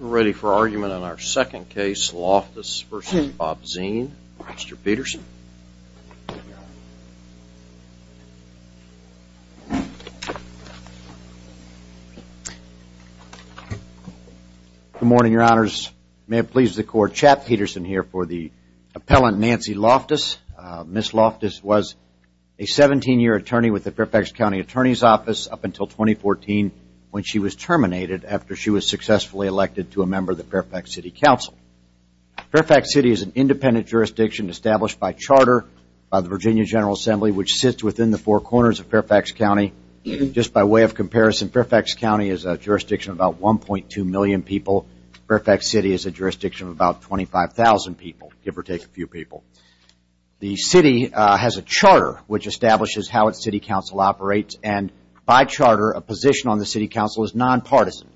We're ready for argument on our second case, Loftus v. Bobzien. Mr. Peterson. Good morning, your honors. May it please the court, Chap Peterson here for the appellant Nancy Loftus. Ms. Loftus was a 17-year attorney with the Fairfax County Attorney's Office up until 2014 when she was terminated after she was successfully elected to a member of the Fairfax City Council. Fairfax City is an independent jurisdiction established by charter by the Virginia General Assembly which sits within the four corners of Fairfax County. Just by way of comparison, Fairfax County is a jurisdiction of about 1.2 million people. Fairfax City is a jurisdiction of about 25,000 people, give or take a few people. The city has a charter which establishes how its city council operates and by charter a position on the city council is non-partisan.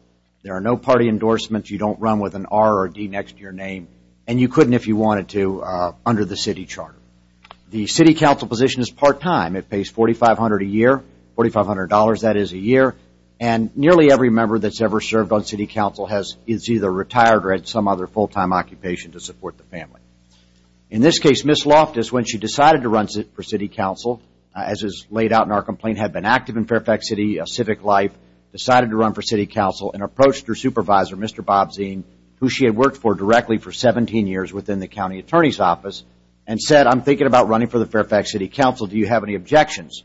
There are no party endorsements, you don't run with an R or a D next to your name and you couldn't if you wanted to under the city charter. The city council position is part-time. It pays $4,500 a year, $4,500 that is a year, and nearly every member that's ever served on city council is either retired or had some other full-time occupation to support the family. In this case, Ms. Loftus, when she decided to run for city council, as is laid out in our complaint, had been active in Fairfax City civic life, decided to run for city council and approached her supervisor, Mr. Bob Zien, who she had worked for directly for 17 years within the county attorney's office, and said, I'm thinking about running for the Fairfax City Council, do you have any objections?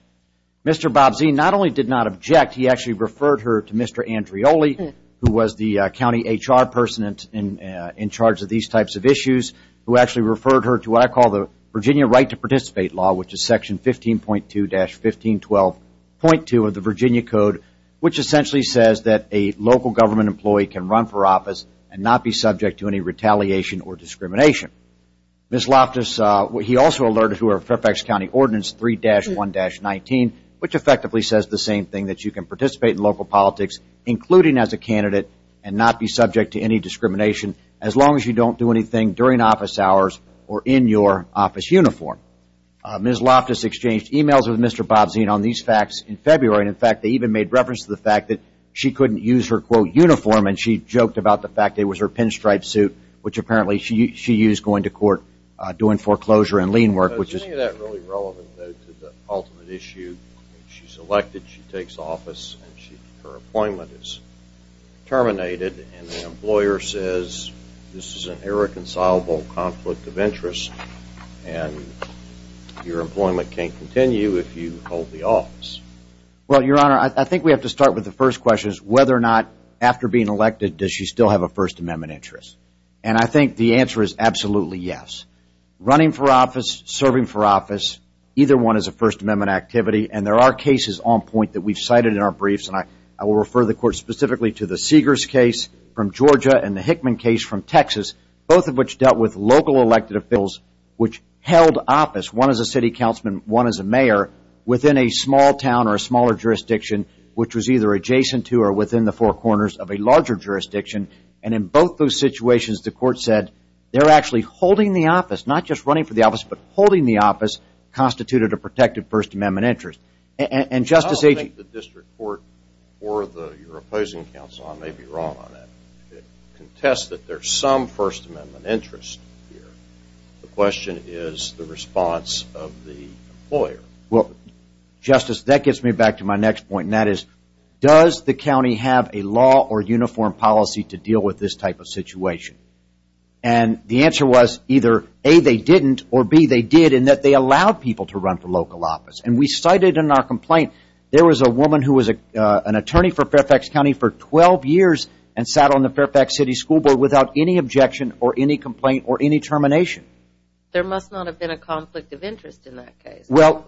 Mr. Bob Zien not only did not object, he actually referred her to Mr. Andreoli who was the county HR person in charge of these types of issues, who actually referred her to what I call the Virginia Right to Participate Law which is section 15.2-1512.2 of the Virginia Code, which essentially says that a local government employee can run for office and not be subject to any retaliation or discrimination. Ms. Loftus, he also alerted her Fairfax County Ordinance 3-1-19, which effectively says the same thing, that you can participate in local politics, including as a candidate, and not be subject to any discrimination as long as you don't do anything during office hours or in your office uniform. Ms. Loftus exchanged emails with Mr. Bob Zien on these facts in February, and in fact they even made reference to the fact that she couldn't use her, quote, uniform, and she joked about the fact it was her pinstripe suit, which apparently she used going to court doing foreclosure and lien work. Is any of that really relevant though to the ultimate issue? She's elected, she takes office, and her appointment is terminated, and the employer says this is an irreconcilable conflict of interest, and your employment can't continue if you hold the office. Well, Your Honor, I think we have to start with the first question, whether or not after being elected does she still have a First Amendment interest, and I think the answer is absolutely yes. Running for office, serving for office, either one is a First Amendment activity, and there are cases on point that we've cited in our briefs, and I will refer the Court specifically to the Seegers case from Georgia and the Hickman case from Texas, both of which dealt with local elected officials, which held office, one as a city councilman, one as a mayor, within a small town or a smaller jurisdiction, which was either adjacent to or within the four corners of a larger jurisdiction, and in both those situations the Court said they're actually holding the office, not just running for the office, but holding the office, constituted a protected First Amendment interest. I don't think the district court or your opposing counsel may be wrong on that. It contests that there's some First Amendment interest here. The question is the response of the employer. Well, Justice, that gets me back to my next point, and that is does the county have a law or uniform policy to deal with this type of situation, and the answer was either A, they didn't, or B, they did in that they allowed people to run for local office, and we cited in our complaint there was a woman who was an attorney for Fairfax County for 12 years and sat on the Fairfax City School Board without any objection or any complaint or any termination. There must not have been a conflict of interest in that case. Well,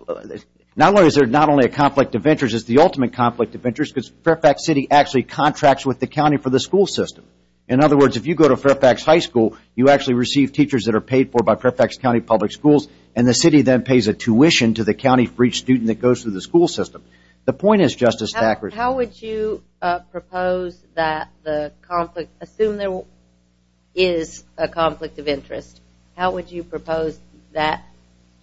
not only is there not only a conflict of interest, it's the ultimate conflict of interest because Fairfax City actually contracts with the county for the school system. In other words, if you go to Fairfax High School, you actually receive teachers that are paid for by Fairfax County Public Schools, and the city then pays a tuition to the county for each student that goes through the school system. The point is, Justice Thackeray. How would you propose that the conflict, assume there is a conflict of interest, how would you propose that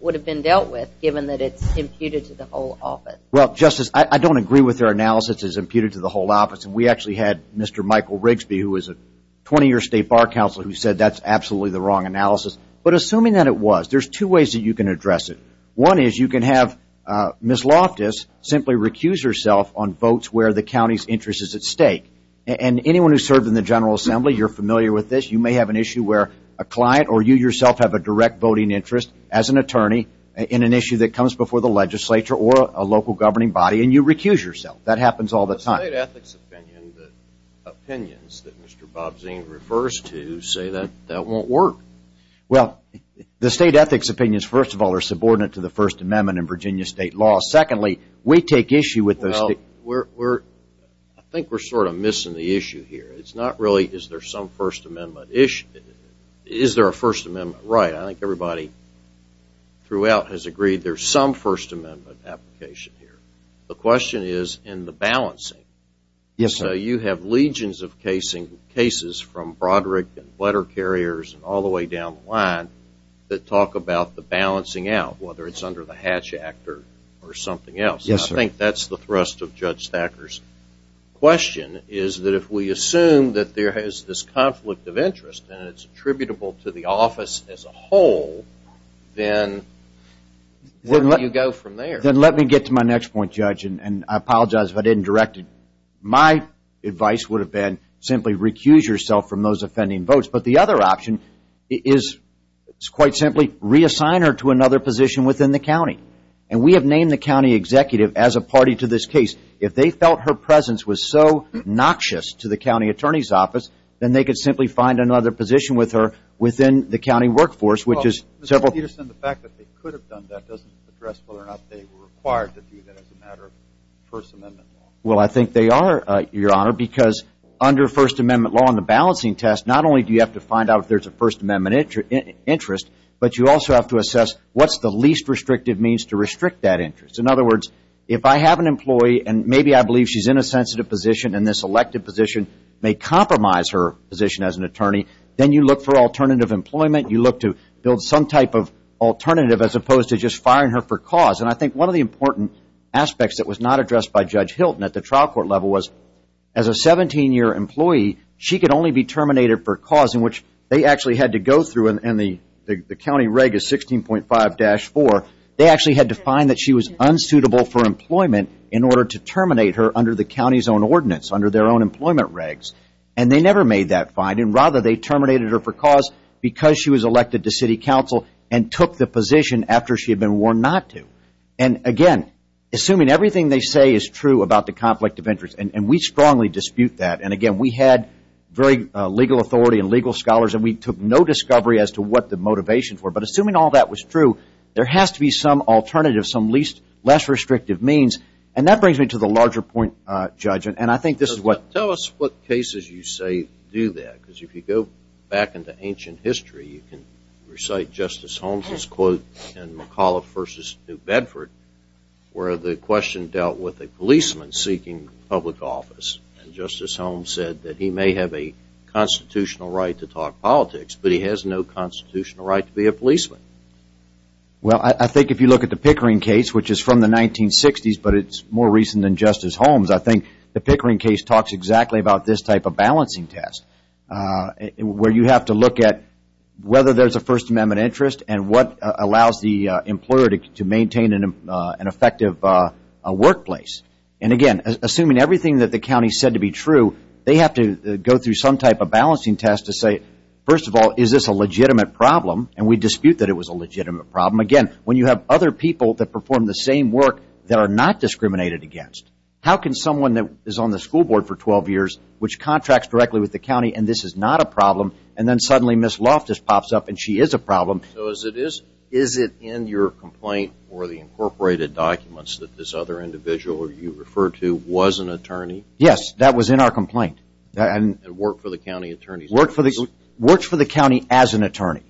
would have been dealt with given that it's imputed to the whole office? Well, Justice, I don't agree with their analysis as imputed to the whole office, and we actually had Mr. Michael Rigsby, who is a 20-year state bar counselor, who said that's absolutely the wrong analysis, but assuming that it was, there's two ways that you can address it. One is you can have Ms. Loftus simply recuse herself on votes where the county's interest is at stake, and anyone who served in the General Assembly, you're familiar with this. You may have an issue where a client or you yourself have a direct voting interest as an attorney in an issue that comes before the legislature or a local governing body, and you recuse yourself. That happens all the time. The state ethics opinions that Mr. Bobzien refers to say that that won't work. Well, the state ethics opinions, first of all, are subordinate to the First Amendment in Virginia state law. Secondly, we take issue with those. Well, I think we're sort of missing the issue here. It's not really is there some First Amendment issue. Is there a First Amendment right? I think everybody throughout has agreed there's some First Amendment application here. The question is in the balancing. Yes, sir. You have legions of cases from Broderick and letter carriers and all the way down the line that talk about the balancing out, whether it's under the Hatch Act or something else. Yes, sir. I think that's the thrust of Judge Thacker's question is that if we assume that there is this conflict of interest and it's attributable to the office as a whole, then where do you go from there? Then let me get to my next point, Judge, and I apologize if I didn't direct it. My advice would have been simply recuse yourself from those offending votes. But the other option is quite simply reassign her to another position within the county. And we have named the county executive as a party to this case. If they felt her presence was so noxious to the county attorney's office, then they could simply find another position with her within the county workforce, which is several. Well, Mr. Peterson, the fact that they could have done that doesn't address whether or not they were required to do that as a matter of First Amendment law. Well, I think they are, Your Honor, because under First Amendment law and the balancing test, not only do you have to find out if there's a First Amendment interest, but you also have to assess what's the least restrictive means to restrict that interest. In other words, if I have an employee and maybe I believe she's in a sensitive position and this elected position may compromise her position as an attorney, then you look for alternative employment. You look to build some type of alternative as opposed to just firing her for cause. And I think one of the important aspects that was not addressed by Judge Hilton at the trial court level was, as a 17-year employee, she could only be terminated for cause in which they actually had to go through, and the county reg is 16.5-4, they actually had to find that she was unsuitable for employment in order to terminate her under the county's own ordinance, under their own employment regs. And they never made that finding. Rather, they terminated her for cause because she was elected to city council and took the position after she had been warned not to. And, again, assuming everything they say is true about the conflict of interest, and we strongly dispute that, and, again, we had very legal authority and legal scholars and we took no discovery as to what the motivations were, but assuming all that was true, there has to be some alternative, some less restrictive means. And that brings me to the larger point, Judge, and I think this is what – Tell us what cases you say do that, because if you go back into ancient history, you can recite Justice Holmes' quote in McAuliffe v. New Bedford where the question dealt with a policeman seeking public office. And Justice Holmes said that he may have a constitutional right to talk politics, but he has no constitutional right to be a policeman. Well, I think if you look at the Pickering case, which is from the 1960s, but it's more recent than Justice Holmes, I think the Pickering case talks exactly about this type of balancing test where you have to look at whether there's a First Amendment interest and what allows the employer to maintain an effective workplace. And, again, assuming everything that the county said to be true, they have to go through some type of balancing test to say, first of all, is this a legitimate problem? And we dispute that it was a legitimate problem. Again, when you have other people that perform the same work that are not discriminated against, how can someone that is on the school board for 12 years, which contracts directly with the county, and this is not a problem, and then suddenly Ms. Loftus pops up and she is a problem. So is it in your complaint or the incorporated documents that this other individual you referred to was an attorney? Yes, that was in our complaint. And worked for the county attorney's office? Worked for the county as an attorney.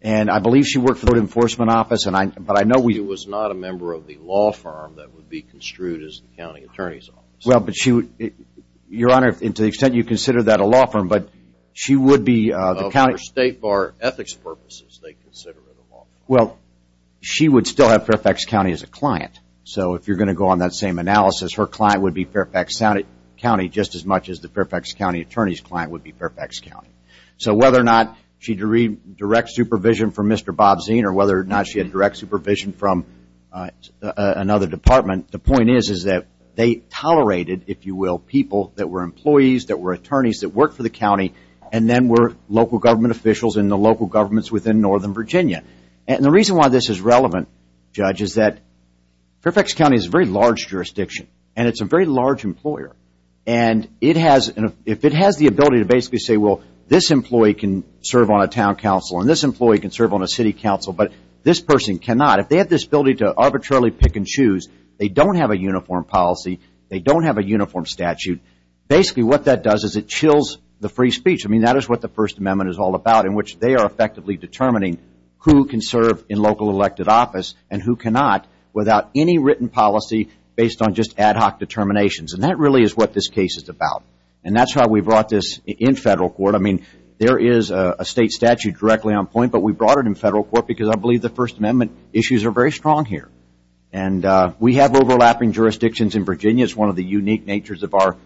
And I believe she worked for the law enforcement office, but I know we – She was not a member of the law firm that would be construed as the county attorney's office. Well, but she would – Your Honor, to the extent you consider that a law firm, but she would be the county – For state bar ethics purposes, they consider it a law firm. Well, she would still have Fairfax County as a client. So if you're going to go on that same analysis, her client would be Fairfax County just as much as the Fairfax County attorney's client would be Fairfax County. So whether or not she had direct supervision from Mr. Bob Zien or whether or not she had direct supervision from another department, the point is that they tolerated, if you will, people that were employees, that were attorneys that worked for the county, and then were local government officials in the local governments within northern Virginia. And the reason why this is relevant, Judge, is that Fairfax County is a very large jurisdiction, and it's a very large employer. And if it has the ability to basically say, well, this employee can serve on a town council and this employee can serve on a city council, but this person cannot. If they have this ability to arbitrarily pick and choose, they don't have a uniform policy. They don't have a uniform statute. Basically, what that does is it chills the free speech. I mean, that is what the First Amendment is all about, in which they are effectively determining who can serve in local elected office and who cannot without any written policy based on just ad hoc determinations. And that really is what this case is about. And that's how we brought this in federal court. I mean, there is a state statute directly on point, but we brought it in federal court because I believe the First Amendment issues are very strong here. And we have overlapping jurisdictions in Virginia. It's one of the unique natures of our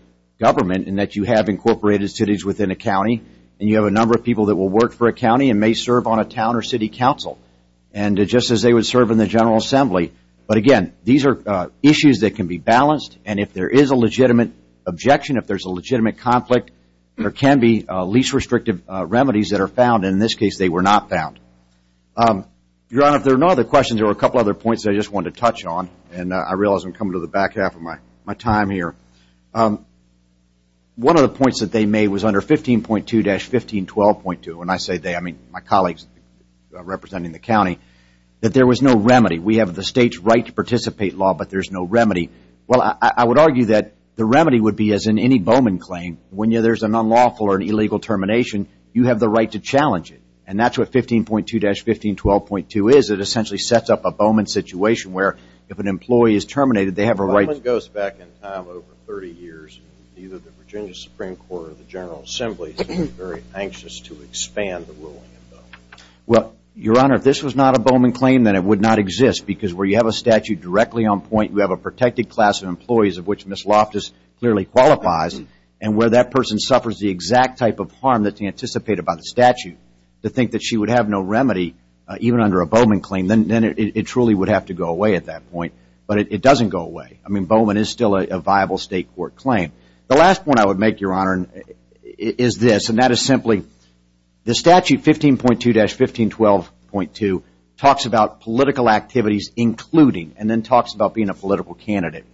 government in that you have incorporated cities within a county and you have a number of people that will work for a county and may serve on a town or city council, and just as they would serve in the General Assembly. But, again, these are issues that can be balanced. And if there is a legitimate objection, if there's a legitimate conflict, there can be least restrictive remedies that are found. In this case, they were not found. Your Honor, if there are no other questions, there are a couple of other points I just wanted to touch on. And I realize I'm coming to the back half of my time here. One of the points that they made was under 15.2-1512.2, and I say they, I mean, my colleagues representing the county, that there was no remedy. We have the state's right to participate law, but there's no remedy. Well, I would argue that the remedy would be, as in any Bowman claim, when there's an unlawful or an illegal termination, you have the right to challenge it. And that's what 15.2-1512.2 is. It essentially sets up a Bowman situation where if an employee is terminated, they have a right to Bowman goes back in time over 30 years. Either the Virginia Supreme Court or the General Assembly is very anxious to expand the ruling of Bowman. Well, Your Honor, if this was not a Bowman claim, then it would not exist because where you have a statute directly on point, you have a protected class of employees of which Ms. Loftus clearly qualifies, and where that person suffers the exact type of harm that's anticipated by the statute, to think that she would have no remedy, even under a Bowman claim, then it truly would have to go away at that point. But it doesn't go away. I mean, Bowman is still a viable state court claim. The last point I would make, Your Honor, is this, and that is simply, the statute 15.2-1512.2 talks about political activities including, and then talks about being a political candidate.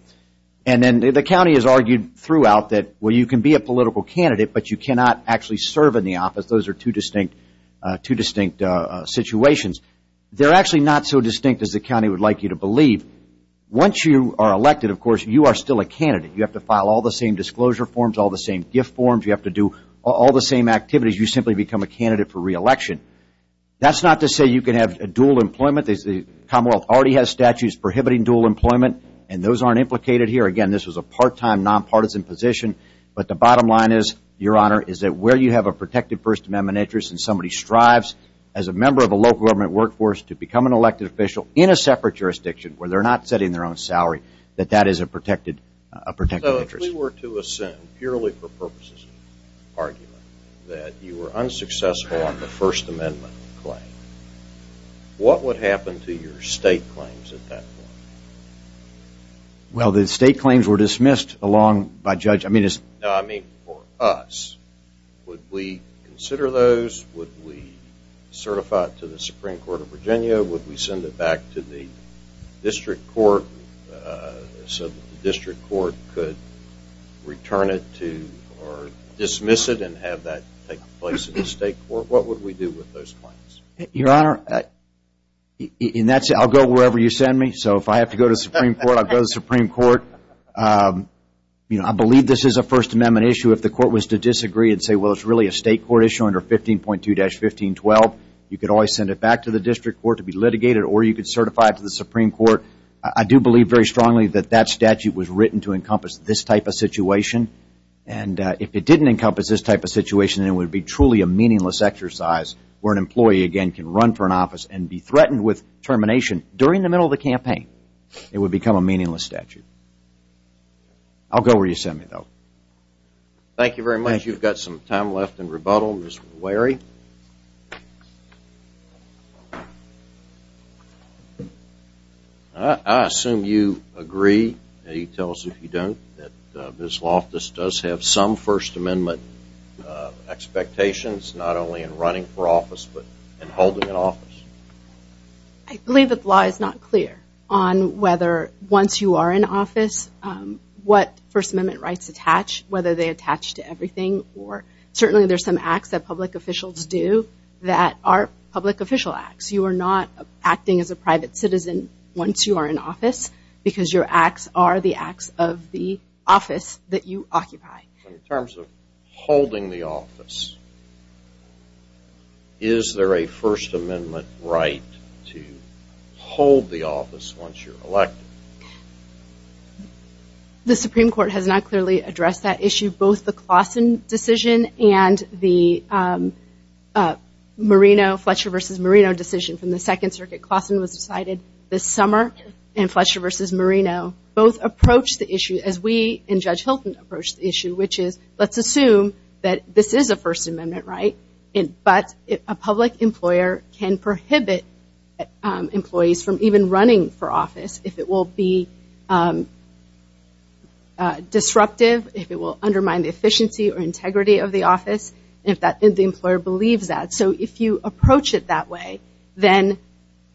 And then the county has argued throughout that, well, you can be a political candidate, but you cannot actually serve in the office. Those are two distinct situations. They're actually not so distinct as the county would like you to believe. Once you are elected, of course, you are still a candidate. You have to file all the same disclosure forms, all the same gift forms. You have to do all the same activities. You simply become a candidate for re-election. That's not to say you can have dual employment. The Commonwealth already has statutes prohibiting dual employment, and those aren't implicated here. Again, this was a part-time, nonpartisan position. But the bottom line is, Your Honor, is that where you have a protected First Amendment interest and somebody strives as a member of a local government workforce to become an elected official in a separate jurisdiction where they're not setting their own salary, that that is a protected interest. So if we were to assume, purely for purposes of argument, that you were unsuccessful on the First Amendment claim, what would happen to your state claims at that point? Well, the state claims were dismissed along by judges. No, I mean for us. Would we consider those? Would we certify it to the Supreme Court of Virginia? Would we send it back to the district court so that the district court could return it to or dismiss it and have that take place in the state court? What would we do with those claims? Your Honor, in that sense, I'll go wherever you send me. So if I have to go to the Supreme Court, I'll go to the Supreme Court. I believe this is a First Amendment issue. If the court was to disagree and say, well, it's really a state court issue under 15.2-1512, you could always send it back to the district court to be litigated or you could certify it to the Supreme Court. I do believe very strongly that that statute was written to encompass this type of situation. And if it didn't encompass this type of situation, it would be truly a meaningless exercise where an employee, again, can run for an office and be threatened with termination during the middle of the campaign. It would become a meaningless statute. I'll go where you send me, though. Thank you very much. You've got some time left in rebuttal. Mr. Leary? I assume you agree, and you tell us if you don't, that Ms. Loftus does have some First Amendment expectations, not only in running for office but in holding an office. I believe the law is not clear on whether once you are in office, what First Amendment rights attach, whether they attach to everything. Certainly there are some acts that public officials do that are public official acts. You are not acting as a private citizen once you are in office because your acts are the acts of the office that you occupy. In terms of holding the office, is there a First Amendment right to hold the office once you're elected? The Supreme Court has not clearly addressed that issue. Both the Claussen decision and the Marino, Fletcher v. Marino decision from the Second Circuit. Claussen was decided this summer and Fletcher v. Marino both approached the issue as we and Judge Hilton approached the issue, which is let's assume that this is a First Amendment right, but a public employer can prohibit employees from even running for office if it will be disruptive, if it will undermine the efficiency or integrity of the office, if the employer believes that. If you approach it that way, then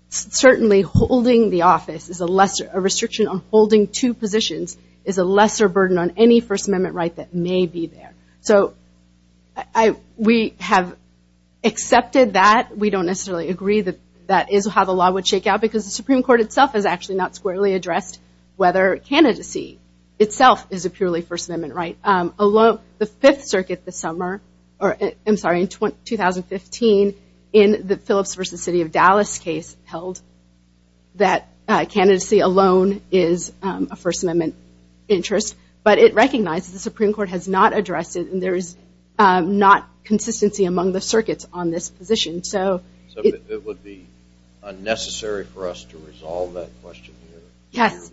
certainly holding the office, a restriction on holding two positions, is a lesser burden on any First Amendment right that may be there. We have accepted that. We don't necessarily agree that that is how the law would shake out because the Supreme Court itself has actually not squarely addressed whether candidacy itself is a purely First Amendment right. The Fifth Circuit in 2015 in the Phillips v. City of Dallas case held that candidacy alone is a First Amendment interest, but it recognizes the Supreme Court has not addressed it and there is not consistency among the circuits on this position. So it would be unnecessary for us to resolve that question here? Yes.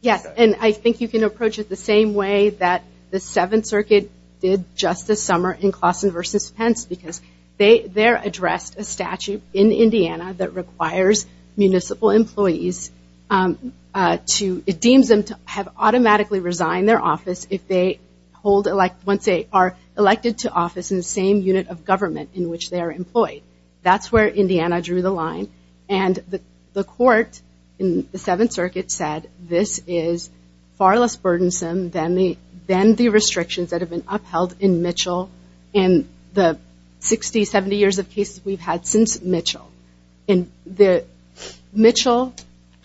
Yes, and I think you can approach it the same way that the Seventh Circuit did just this summer in Claussen v. Pence because they addressed a statute in Indiana that requires municipal employees to, it deems them to have automatically resigned their office if they are elected to office in the same unit of government in which they are employed. That's where Indiana drew the line. And the court in the Seventh Circuit said this is far less burdensome than the restrictions that have been upheld in Mitchell and the 60, 70 years of cases we've had since Mitchell. Mitchell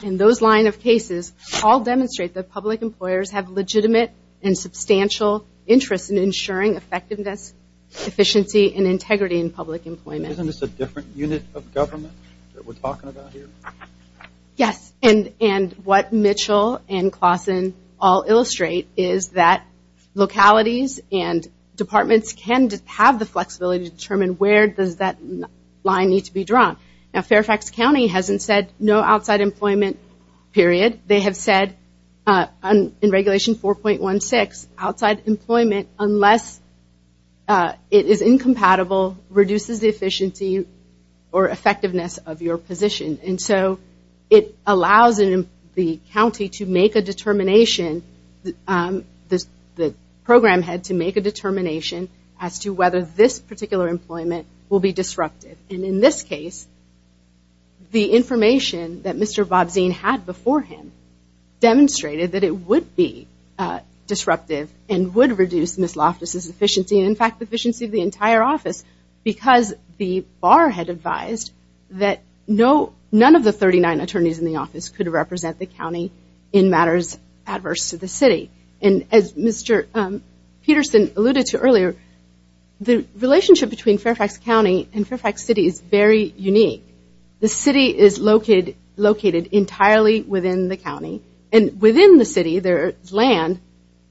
and those line of cases all demonstrate that public employers have legitimate and substantial interest in ensuring effectiveness, efficiency, and integrity in public employment. Isn't this a different unit of government that we're talking about here? Yes, and what Mitchell and Claussen all illustrate is that localities and departments can have the flexibility to determine where does that line need to be drawn. Now Fairfax County hasn't said no outside employment, period. They have said in Regulation 4.16, outside employment unless it is incompatible reduces the efficiency or effectiveness of your position. And so it allows the county to make a determination, the program head to make a determination as to whether this particular employment will be disruptive. And in this case, the information that Mr. Bobzien had beforehand demonstrated that it would be disruptive and would reduce Ms. Loftus' efficiency. In fact, the efficiency of the entire office because the bar had advised that none of the 39 attorneys in the office could represent the county in matters adverse to the city. And as Mr. Peterson alluded to earlier, the relationship between Fairfax County and Fairfax City is very unique. The city is located entirely within the county. And within the city there is land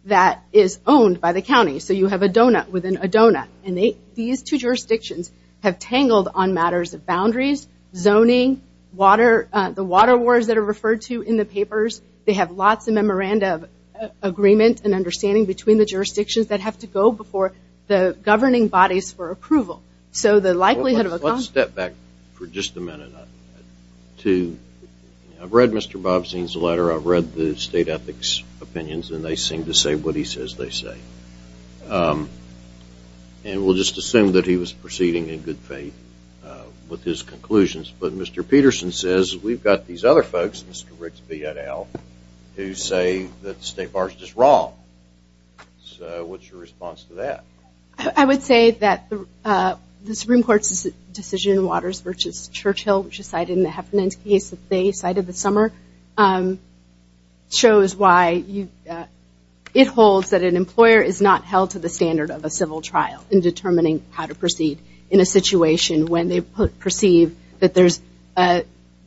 that is owned by the county. So you have a donut within a donut. And these two jurisdictions have tangled on matters of boundaries, zoning, the water wars that are referred to in the papers. They have lots of memoranda of agreement and understanding between the jurisdictions that have to go before the governing bodies for approval. So the likelihood of a conflict... Let's step back for just a minute. I've read Mr. Bobzien's letter. I've read the state ethics opinions, and they seem to say what he says they say. And we'll just assume that he was proceeding in good faith with his conclusions. But Mr. Peterson says we've got these other folks, Mr. Ricks, B. et al., who say that the state bar is just wrong. So what's your response to that? I would say that the Supreme Court's decision in Waters v. Churchill, which is cited in the Heffernan's case that they cited this summer, shows why it holds that an employer is not held to the standard of a civil trial in determining how to proceed in a situation when they perceive that there's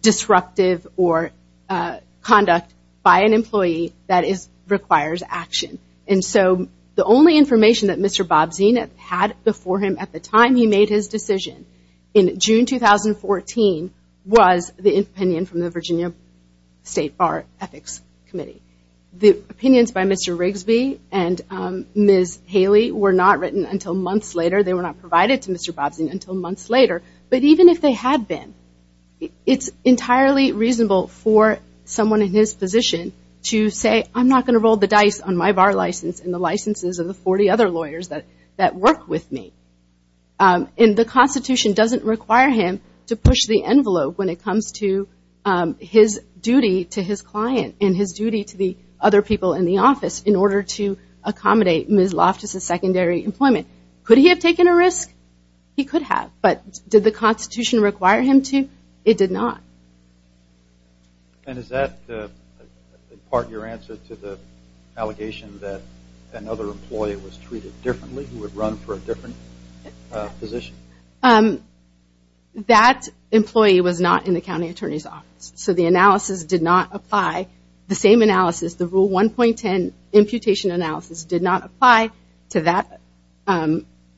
disruptive or conduct by an employee that requires action. And so the only information that Mr. Bobzien had before him at the time he made his decision, in June 2014, was the opinion from the Virginia State Bar Ethics Committee. The opinions by Mr. Rigsby and Ms. Haley were not written until months later. They were not provided to Mr. Bobzien until months later. But even if they had been, it's entirely reasonable for someone in his position to say, I'm not going to roll the dice on my bar license and the licenses of the 40 other lawyers that work with me. And the Constitution doesn't require him to push the envelope when it comes to his duty to his client and his duty to the other people in the office in order to accommodate Ms. Loftus's secondary employment. Could he have taken a risk? He could have, but did the Constitution require him to? It did not. And is that in part your answer to the allegation that another employee was treated differently, who would run for a different position? That employee was not in the county attorney's office. So the analysis did not apply. The same analysis, the Rule 1.10 imputation analysis did not apply to that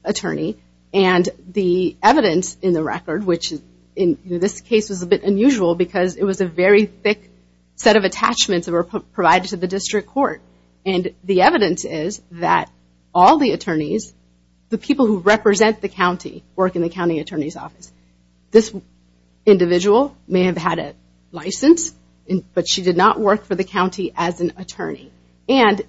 attorney. And the evidence in the record, which in this case was a bit unusual because it was a very thick set of attachments that were provided to the district court. And the evidence is that all the attorneys, the people who represent the county, work in the county attorney's office. This individual may have had a license, but she did not work for the county as an attorney. And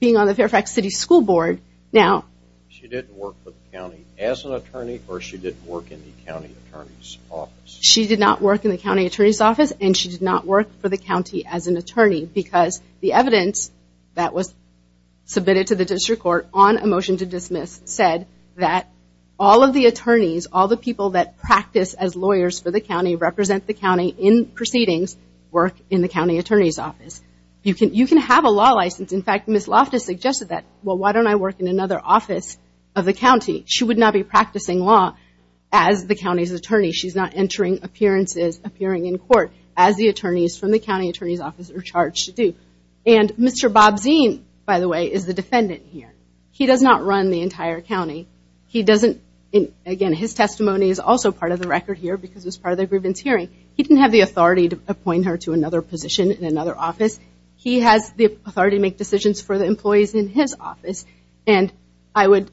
being on the Fairfax City School Board, now... She didn't work for the county as an attorney or she didn't work in the county attorney's office? She did not work in the county attorney's office and she did not work for the county as an attorney because the evidence that was submitted to the district court on a motion to dismiss said that all of the attorneys, all the people that practice as lawyers for the county, represent the county in proceedings, work in the county attorney's office. You can have a law license. In fact, Ms. Loftus suggested that, well, why don't I work in another office of the county? She would not be practicing law as the county's attorney. She's not entering appearances, appearing in court as the attorneys from the county attorney's office are charged to do. And Mr. Bobzine, by the way, is the defendant here. He does not run the entire county. He doesn't, again, his testimony is also part of the record here because it's part of the grievance hearing. He didn't have the authority to appoint her to another position in another office. He has the authority to make decisions for the employees in his office. And I would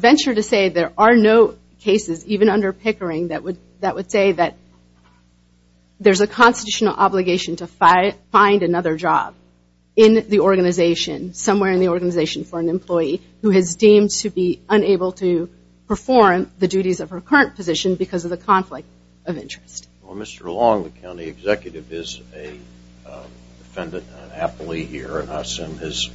venture to say there are no cases, even under Pickering, that would say that there's a constitutional obligation to find another job in the organization, somewhere in the organization for an employee who is deemed to be unable to perform the duties of her current position because of the conflict of interest. Well, Mr. Long, the county executive, is a defendant and an appellee here, and I assume his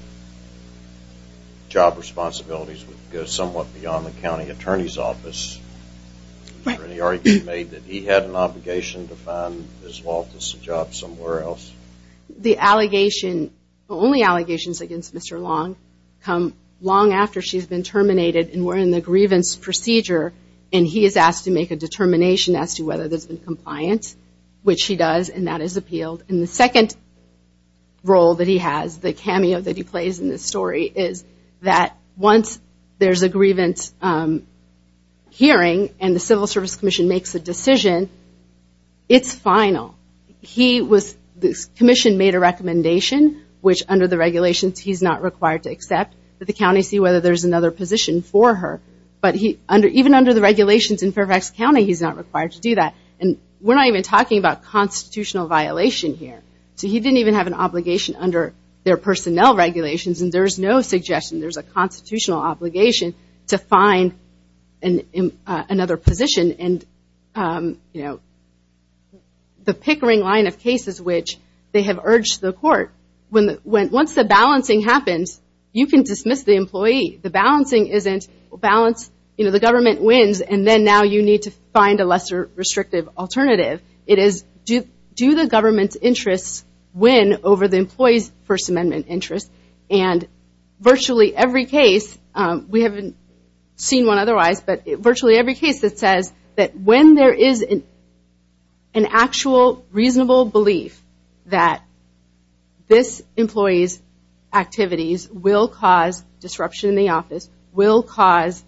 job responsibilities would go somewhat beyond the county attorney's office. Is there any argument made that he had an obligation to find Ms. Loftus a job somewhere else? The only allegations against Mr. Long come long after she's been terminated and we're in the grievance procedure, and he is asked to make a determination as to whether there's been compliance, which he does, and that is appealed. And the second role that he has, the cameo that he plays in this story, is that once there's a grievance hearing and the Civil Service Commission makes a decision, it's final. The commission made a recommendation, which under the regulations he's not required to accept, that the county see whether there's another position for her. But even under the regulations in Fairfax County, he's not required to do that. And we're not even talking about constitutional violation here. So he didn't even have an obligation under their personnel regulations, and there's no suggestion. There's a constitutional obligation to find another position. And the pickering line of cases which they have urged the court, once the balancing happens, you can dismiss the employee. The balancing isn't balance, you know, the government wins, and then now you need to find a lesser restrictive alternative. It is, do the government's interests win over the employee's First Amendment interests? And virtually every case, we haven't seen one otherwise, but virtually every case that says that when there is an actual, reasonable belief that this employee's activities will cause disruption in the office, will cause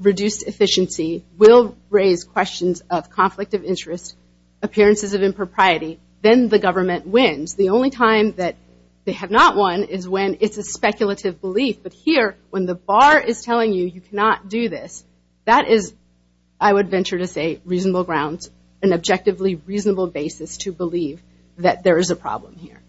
reduced efficiency, will raise questions of conflict of interest, appearances of impropriety, then the government wins. The only time that they have not won is when it's a speculative belief. But here, when the bar is telling you you cannot do this, that is, I would venture to say, reasonable grounds, an objectively reasonable basis to believe that there is a problem here.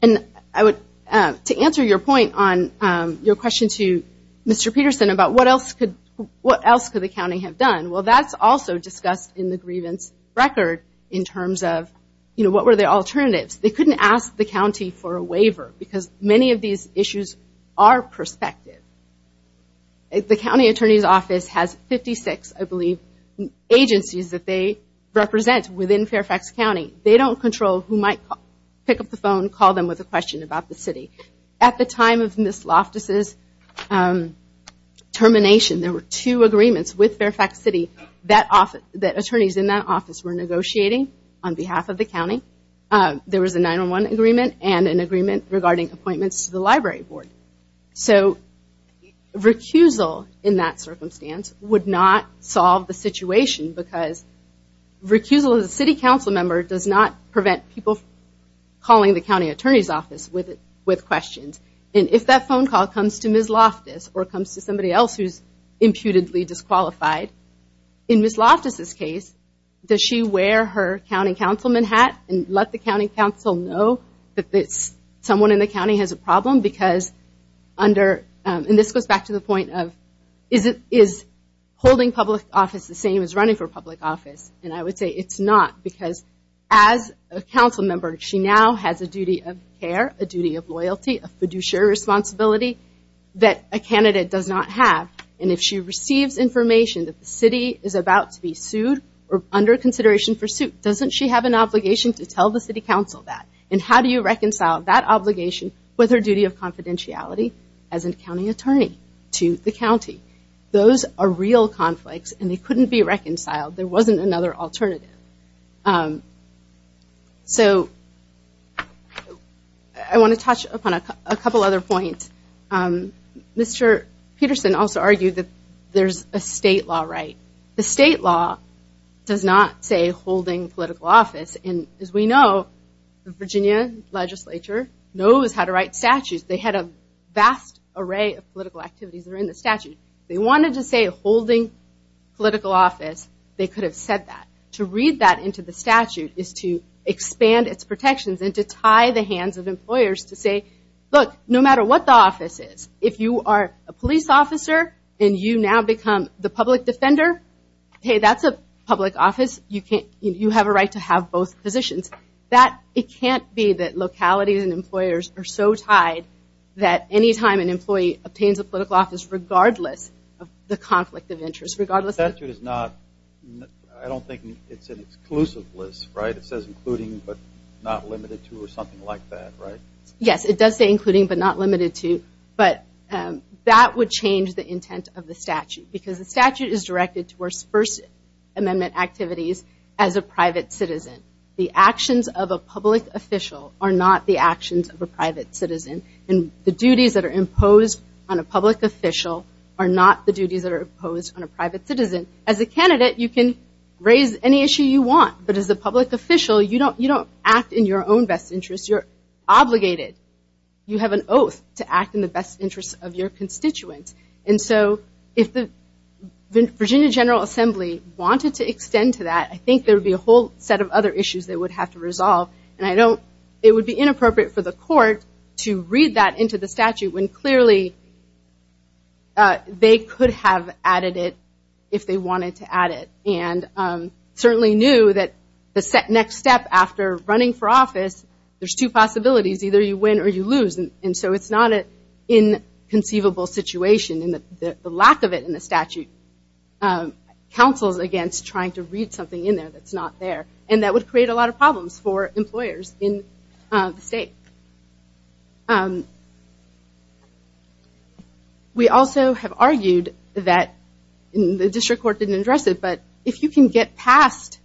And I would, to answer your point on your question to Mr. Peterson about what else could the county have done, well, that's also discussed in the grievance record in terms of, you know, what were the alternatives? They couldn't ask the county for a waiver because many of these issues are prospective. The county attorney's office has 56, I believe, agencies that they represent within Fairfax County. They don't control who might pick up the phone, call them with a question about the city. At the time of Ms. Loftus' termination, there were two agreements with Fairfax City that attorneys in that office were negotiating on behalf of the county. There was a 9-1-1 agreement and an agreement regarding appointments to the library board. So recusal in that circumstance would not solve the situation because recusal as a city council member does not prevent people calling the county attorney's office with questions. And if that phone call comes to Ms. Loftus or comes to somebody else who is imputedly disqualified, in Ms. Loftus' case, does she wear her county councilman hat and let the county council know that someone in the county has a problem because under, and this goes back to the point of, is holding public office the same as running for public office? And I would say it's not because as a council member, she now has a duty of care, a duty of loyalty, a fiduciary responsibility that a candidate does not have. And if she receives information that the city is about to be sued or under consideration for suit, doesn't she have an obligation to tell the city council that? And how do you reconcile that obligation with her duty of confidentiality as a county attorney to the county? Those are real conflicts and they couldn't be reconciled. There wasn't another alternative. So I want to touch upon a couple other points. Mr. Peterson also argued that there's a state law right. The state law does not say holding political office. And as we know, the Virginia legislature knows how to write statutes. They had a vast array of political activities that are in the statute. If they wanted to say holding political office, they could have said that. To read that into the statute is to expand its protections and to tie the hands of employers to say, look, no matter what the office is, if you are a police officer and you now become the public defender, hey, that's a public office. You have a right to have both positions. It can't be that localities and employers are so tied that any time an employee obtains a political office, regardless of the conflict of interest. I don't think it's an exclusive list, right? It says including but not limited to or something like that, right? Yes, it does say including but not limited to, but that would change the intent of the statute because the statute is directed towards First Amendment activities as a private citizen. The actions of a public official are not the actions of a private citizen, and the duties that are imposed on a public official are not the duties that are imposed on a private citizen. As a candidate, you can raise any issue you want, but as a public official, you don't act in your own best interest. You're obligated. You have an oath to act in the best interest of your constituents, and so if the Virginia General Assembly wanted to extend to that, I think there would be a whole set of other issues they would have to resolve, and it would be inappropriate for the court to read that into the statute when clearly they could have added it if they wanted to add it and certainly knew that the next step after running for office, there's two possibilities. Either you win or you lose, and so it's not an inconceivable situation, and the lack of it in the statute counsels against trying to read something in there that's not there, and that would create a lot of problems for employers in the state. We also have argued that the district court didn't address it, but if you can get past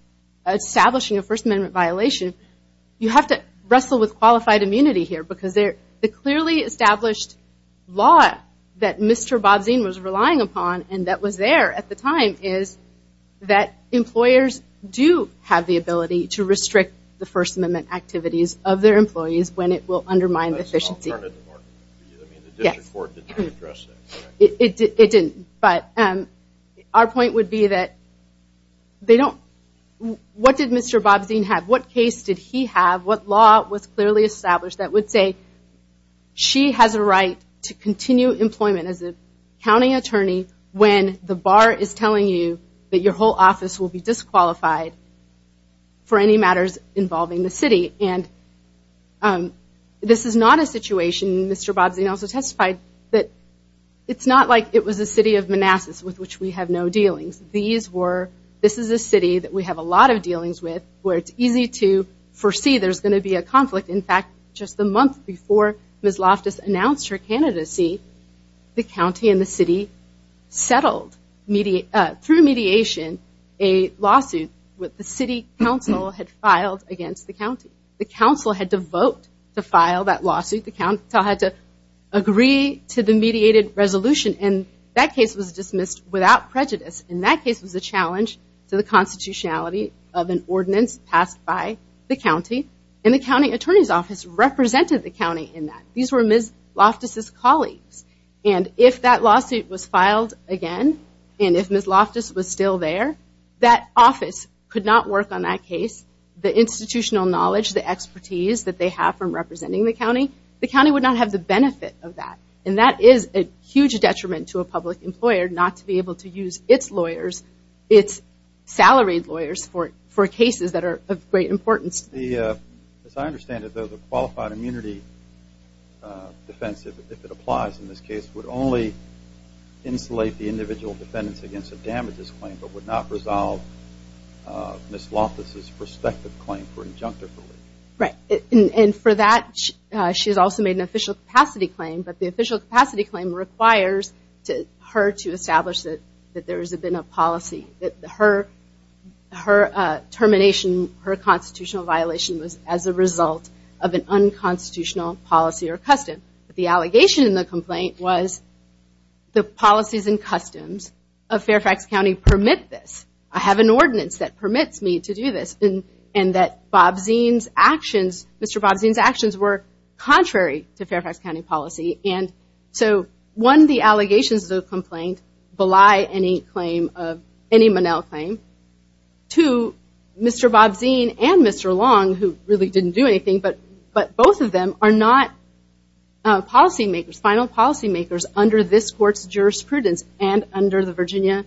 establishing a First Amendment violation, you have to wrestle with qualified immunity here because the clearly established law that Mr. Bobzien was relying upon and that was there at the time is that employers do have the ability to restrict the First Amendment activities of their employees when it will undermine efficiency. The district court didn't address that. It didn't, but our point would be that they don't. What did Mr. Bobzien have? What case did he have? What law was clearly established that would say she has a right to continue employment as a county attorney when the bar is telling you that your whole office will be disqualified for any matters involving the city? This is not a situation, Mr. Bobzien also testified, that it's not like it was a city of Manassas with which we have no dealings. This is a city that we have a lot of dealings with where it's easy to foresee there's going to be a conflict. In fact, just a month before Ms. Loftus announced her candidacy, the county and the city settled through mediation a lawsuit that the city council had filed against the county. The council had to vote to file that lawsuit. The council had to agree to the mediated resolution, and that case was dismissed without prejudice, and that case was a challenge to the constitutionality of an ordinance passed by the county, and the county attorney's office represented the county in that. These were Ms. Loftus' colleagues, and if that lawsuit was filed again, and if Ms. Loftus was still there, that office could not work on that case. The institutional knowledge, the expertise that they have from representing the county, the county would not have the benefit of that, and that is a huge detriment to a public employer not to be able to use its lawyers, its salaried lawyers for cases that are of great importance. As I understand it, though, the qualified immunity defense, if it applies in this case, would only insulate the individual defendants against a damages claim but would not resolve Ms. Loftus' prospective claim for injunctive relief. Right, and for that, she has also made an official capacity claim, but the official capacity claim requires her to establish that there has been a policy. Her termination, her constitutional violation was as a result of an unconstitutional policy or custom. The allegation in the complaint was the policies and customs of Fairfax County permit this. I have an ordinance that permits me to do this, and that Mr. Bobzien's actions were contrary to Fairfax County policy, and so one, the allegations of the complaint belie any Monell claim. Two, Mr. Bobzien and Mr. Long, who really didn't do anything, but both of them are not policymakers, final policymakers, under this court's jurisprudence and under the Virginia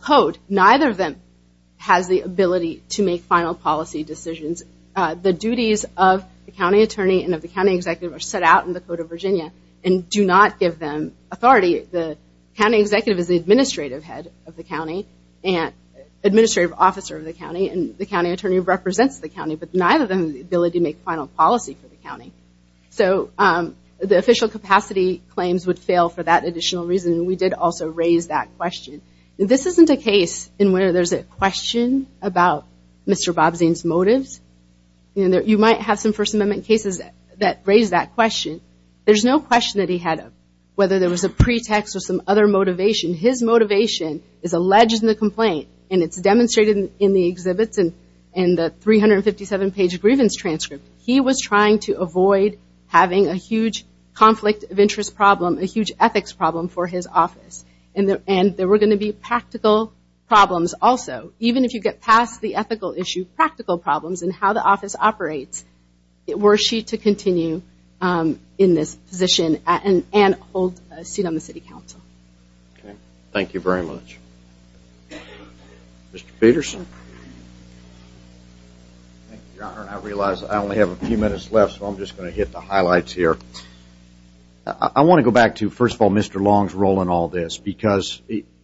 Code. Neither of them has the ability to make final policy decisions. The duties of the county attorney and of the county executive are set out in the Code of Virginia and do not give them authority. The county executive is the administrative head of the county and administrative officer of the county, and the county attorney represents the county, but neither of them has the ability to make final policy for the county. So the official capacity claims would fail for that additional reason, and we did also raise that question. This isn't a case in where there's a question about Mr. Bobzien's motives. You might have some First Amendment cases that raise that question. There's no question that he had whether there was a pretext or some other motivation. His motivation is alleged in the complaint, and it's demonstrated in the exhibits and the 357-page grievance transcript. He was trying to avoid having a huge conflict of interest problem, a huge ethics problem for his office, and there were going to be practical problems also. Even if you get past the ethical issue, practical problems in how the office operates, were she to continue in this position and hold a seat on the city council. Okay. Thank you very much. Mr. Peterson. Thank you, Your Honor. I realize I only have a few minutes left, so I'm just going to hit the highlights here. I want to go back to, first of all, Mr. Long's role in all this, because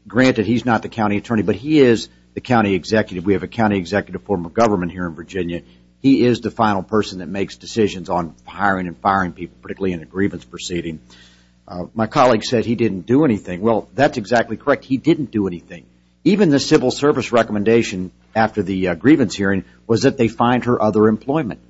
granted he's not the county attorney, but he is the county executive. We have a county executive form of government here in Virginia. He is the final person that makes decisions on hiring and firing people, particularly in a grievance proceeding. My colleague said he didn't do anything. Well, that's exactly correct. He didn't do anything. Even the civil service recommendation after the grievance hearing was that they fined her other employment.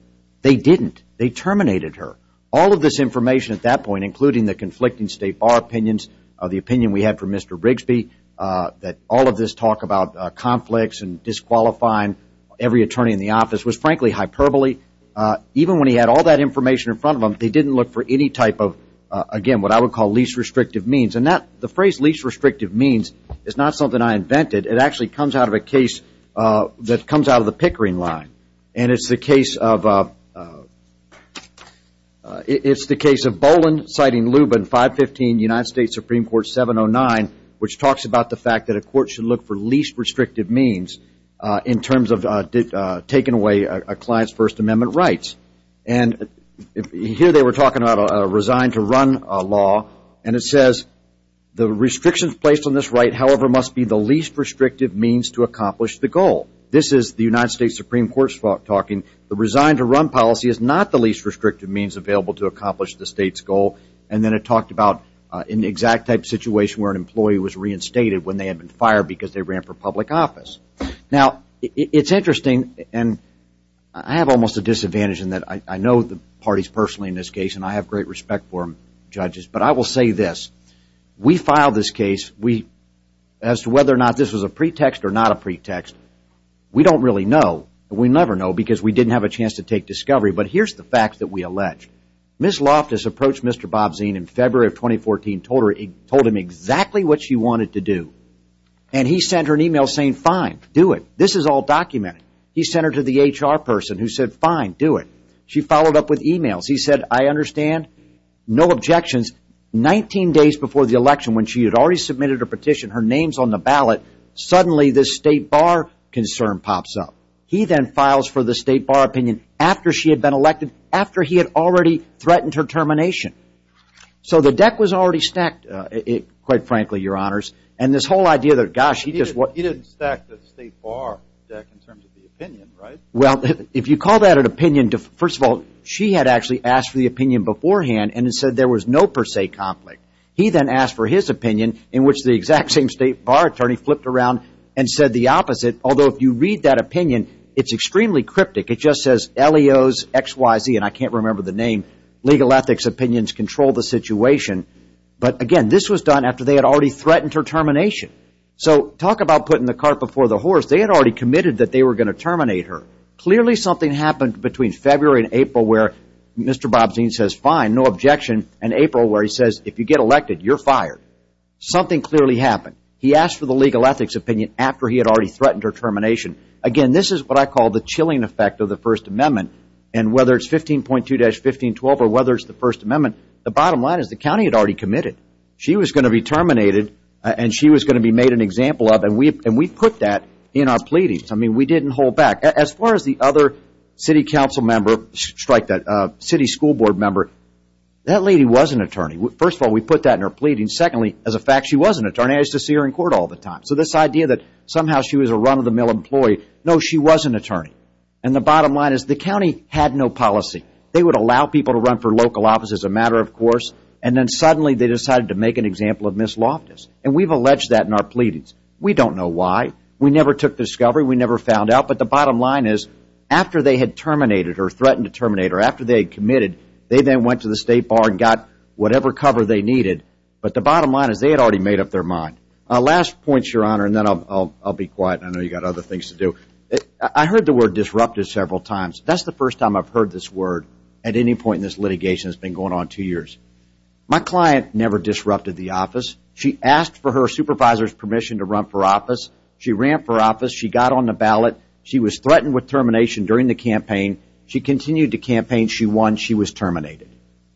They didn't. They terminated her. All of this information at that point, including the conflicting state bar opinions, the opinion we had for Mr. Brigsby, that all of this talk about conflicts and disqualifying every attorney in the office was, frankly, hyperbole. Even when he had all that information in front of him, they didn't look for any type of, again, what I would call least restrictive means. And the phrase least restrictive means is not something I invented. It actually comes out of a case that comes out of the Pickering line, and it's the case of Boland citing Lubin 515 United States Supreme Court 709, which talks about the fact that a court should look for least restrictive means in terms of taking away a client's First Amendment rights. And here they were talking about a resign to run law, and it says the restrictions placed on this right, however, must be the least restrictive means to accomplish the goal. This is the United States Supreme Court's talking. The resign to run policy is not the least restrictive means available to accomplish the state's goal. And then it talked about an exact type situation where an employee was reinstated when they had been fired because they ran for public office. Now, it's interesting, and I have almost a disadvantage in that I know the parties personally in this case, and I have great respect for them, judges, but I will say this. We filed this case as to whether or not this was a pretext or not a pretext. We don't really know. We never know because we didn't have a chance to take discovery, but here's the fact that we allege. Ms. Loftus approached Mr. Bobzien in February of 2014, told him exactly what she wanted to do, and he sent her an email saying, fine, do it. This is all documented. He sent her to the HR person who said, fine, do it. She followed up with emails. He said, I understand, no objections. Nineteen days before the election when she had already submitted her petition, her name's on the ballot, suddenly this State Bar concern pops up. He then files for the State Bar opinion after she had been elected, after he had already threatened her termination. So the deck was already stacked, quite frankly, Your Honors, and this whole idea that, gosh, he didn't stack the State Bar deck in terms of the opinion, right? Well, if you call that an opinion, first of all, she had actually asked for the opinion beforehand and said there was no per se conflict. He then asked for his opinion, in which the exact same State Bar attorney flipped around and said the opposite, although if you read that opinion, it's extremely cryptic. It just says LEOXYZ, and I can't remember the name. Legal ethics opinions control the situation. But, again, this was done after they had already threatened her termination. So talk about putting the cart before the horse. They had already committed that they were going to terminate her. Clearly something happened between February and April where Mr. Bobzien says fine, no objection, and April where he says if you get elected, you're fired. Something clearly happened. He asked for the legal ethics opinion after he had already threatened her termination. Again, this is what I call the chilling effect of the First Amendment, and whether it's 15.2-1512 or whether it's the First Amendment, the bottom line is the county had already committed. She was going to be terminated, and she was going to be made an example of, and we put that in our pleadings. I mean, we didn't hold back. As far as the other city council member, strike that, city school board member, that lady was an attorney. First of all, we put that in our pleadings. Secondly, as a fact, she was an attorney. I used to see her in court all the time. So this idea that somehow she was a run-of-the-mill employee, no, she was an attorney. And the bottom line is the county had no policy. They would allow people to run for local office as a matter of course, and then suddenly they decided to make an example of Ms. Loftus, and we've alleged that in our pleadings. We don't know why. We never took discovery. We never found out. But the bottom line is after they had terminated her, threatened to terminate her, after they had committed, they then went to the State Bar and got whatever cover they needed. But the bottom line is they had already made up their mind. Last point, Your Honor, and then I'll be quiet. I know you've got other things to do. I heard the word disrupted several times. That's the first time I've heard this word at any point in this litigation. It's been going on two years. My client never disrupted the office. She asked for her supervisor's permission to run for office. She ran for office. She got on the ballot. She was threatened with termination during the campaign. She continued the campaign. She won. She was terminated.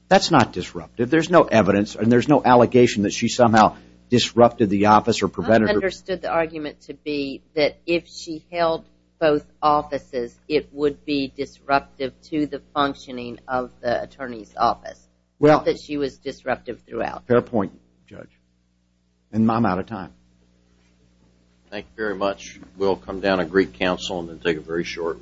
That's not disruptive. There's no evidence and there's no allegation that she somehow disrupted the office or prevented her. I understood the argument to be that if she held both offices, it would be disruptive to the functioning of the attorney's office. Not that she was disruptive throughout. Fair point, Judge. And I'm out of time. Thank you very much. We'll come down and greet counsel and then take a very short recess.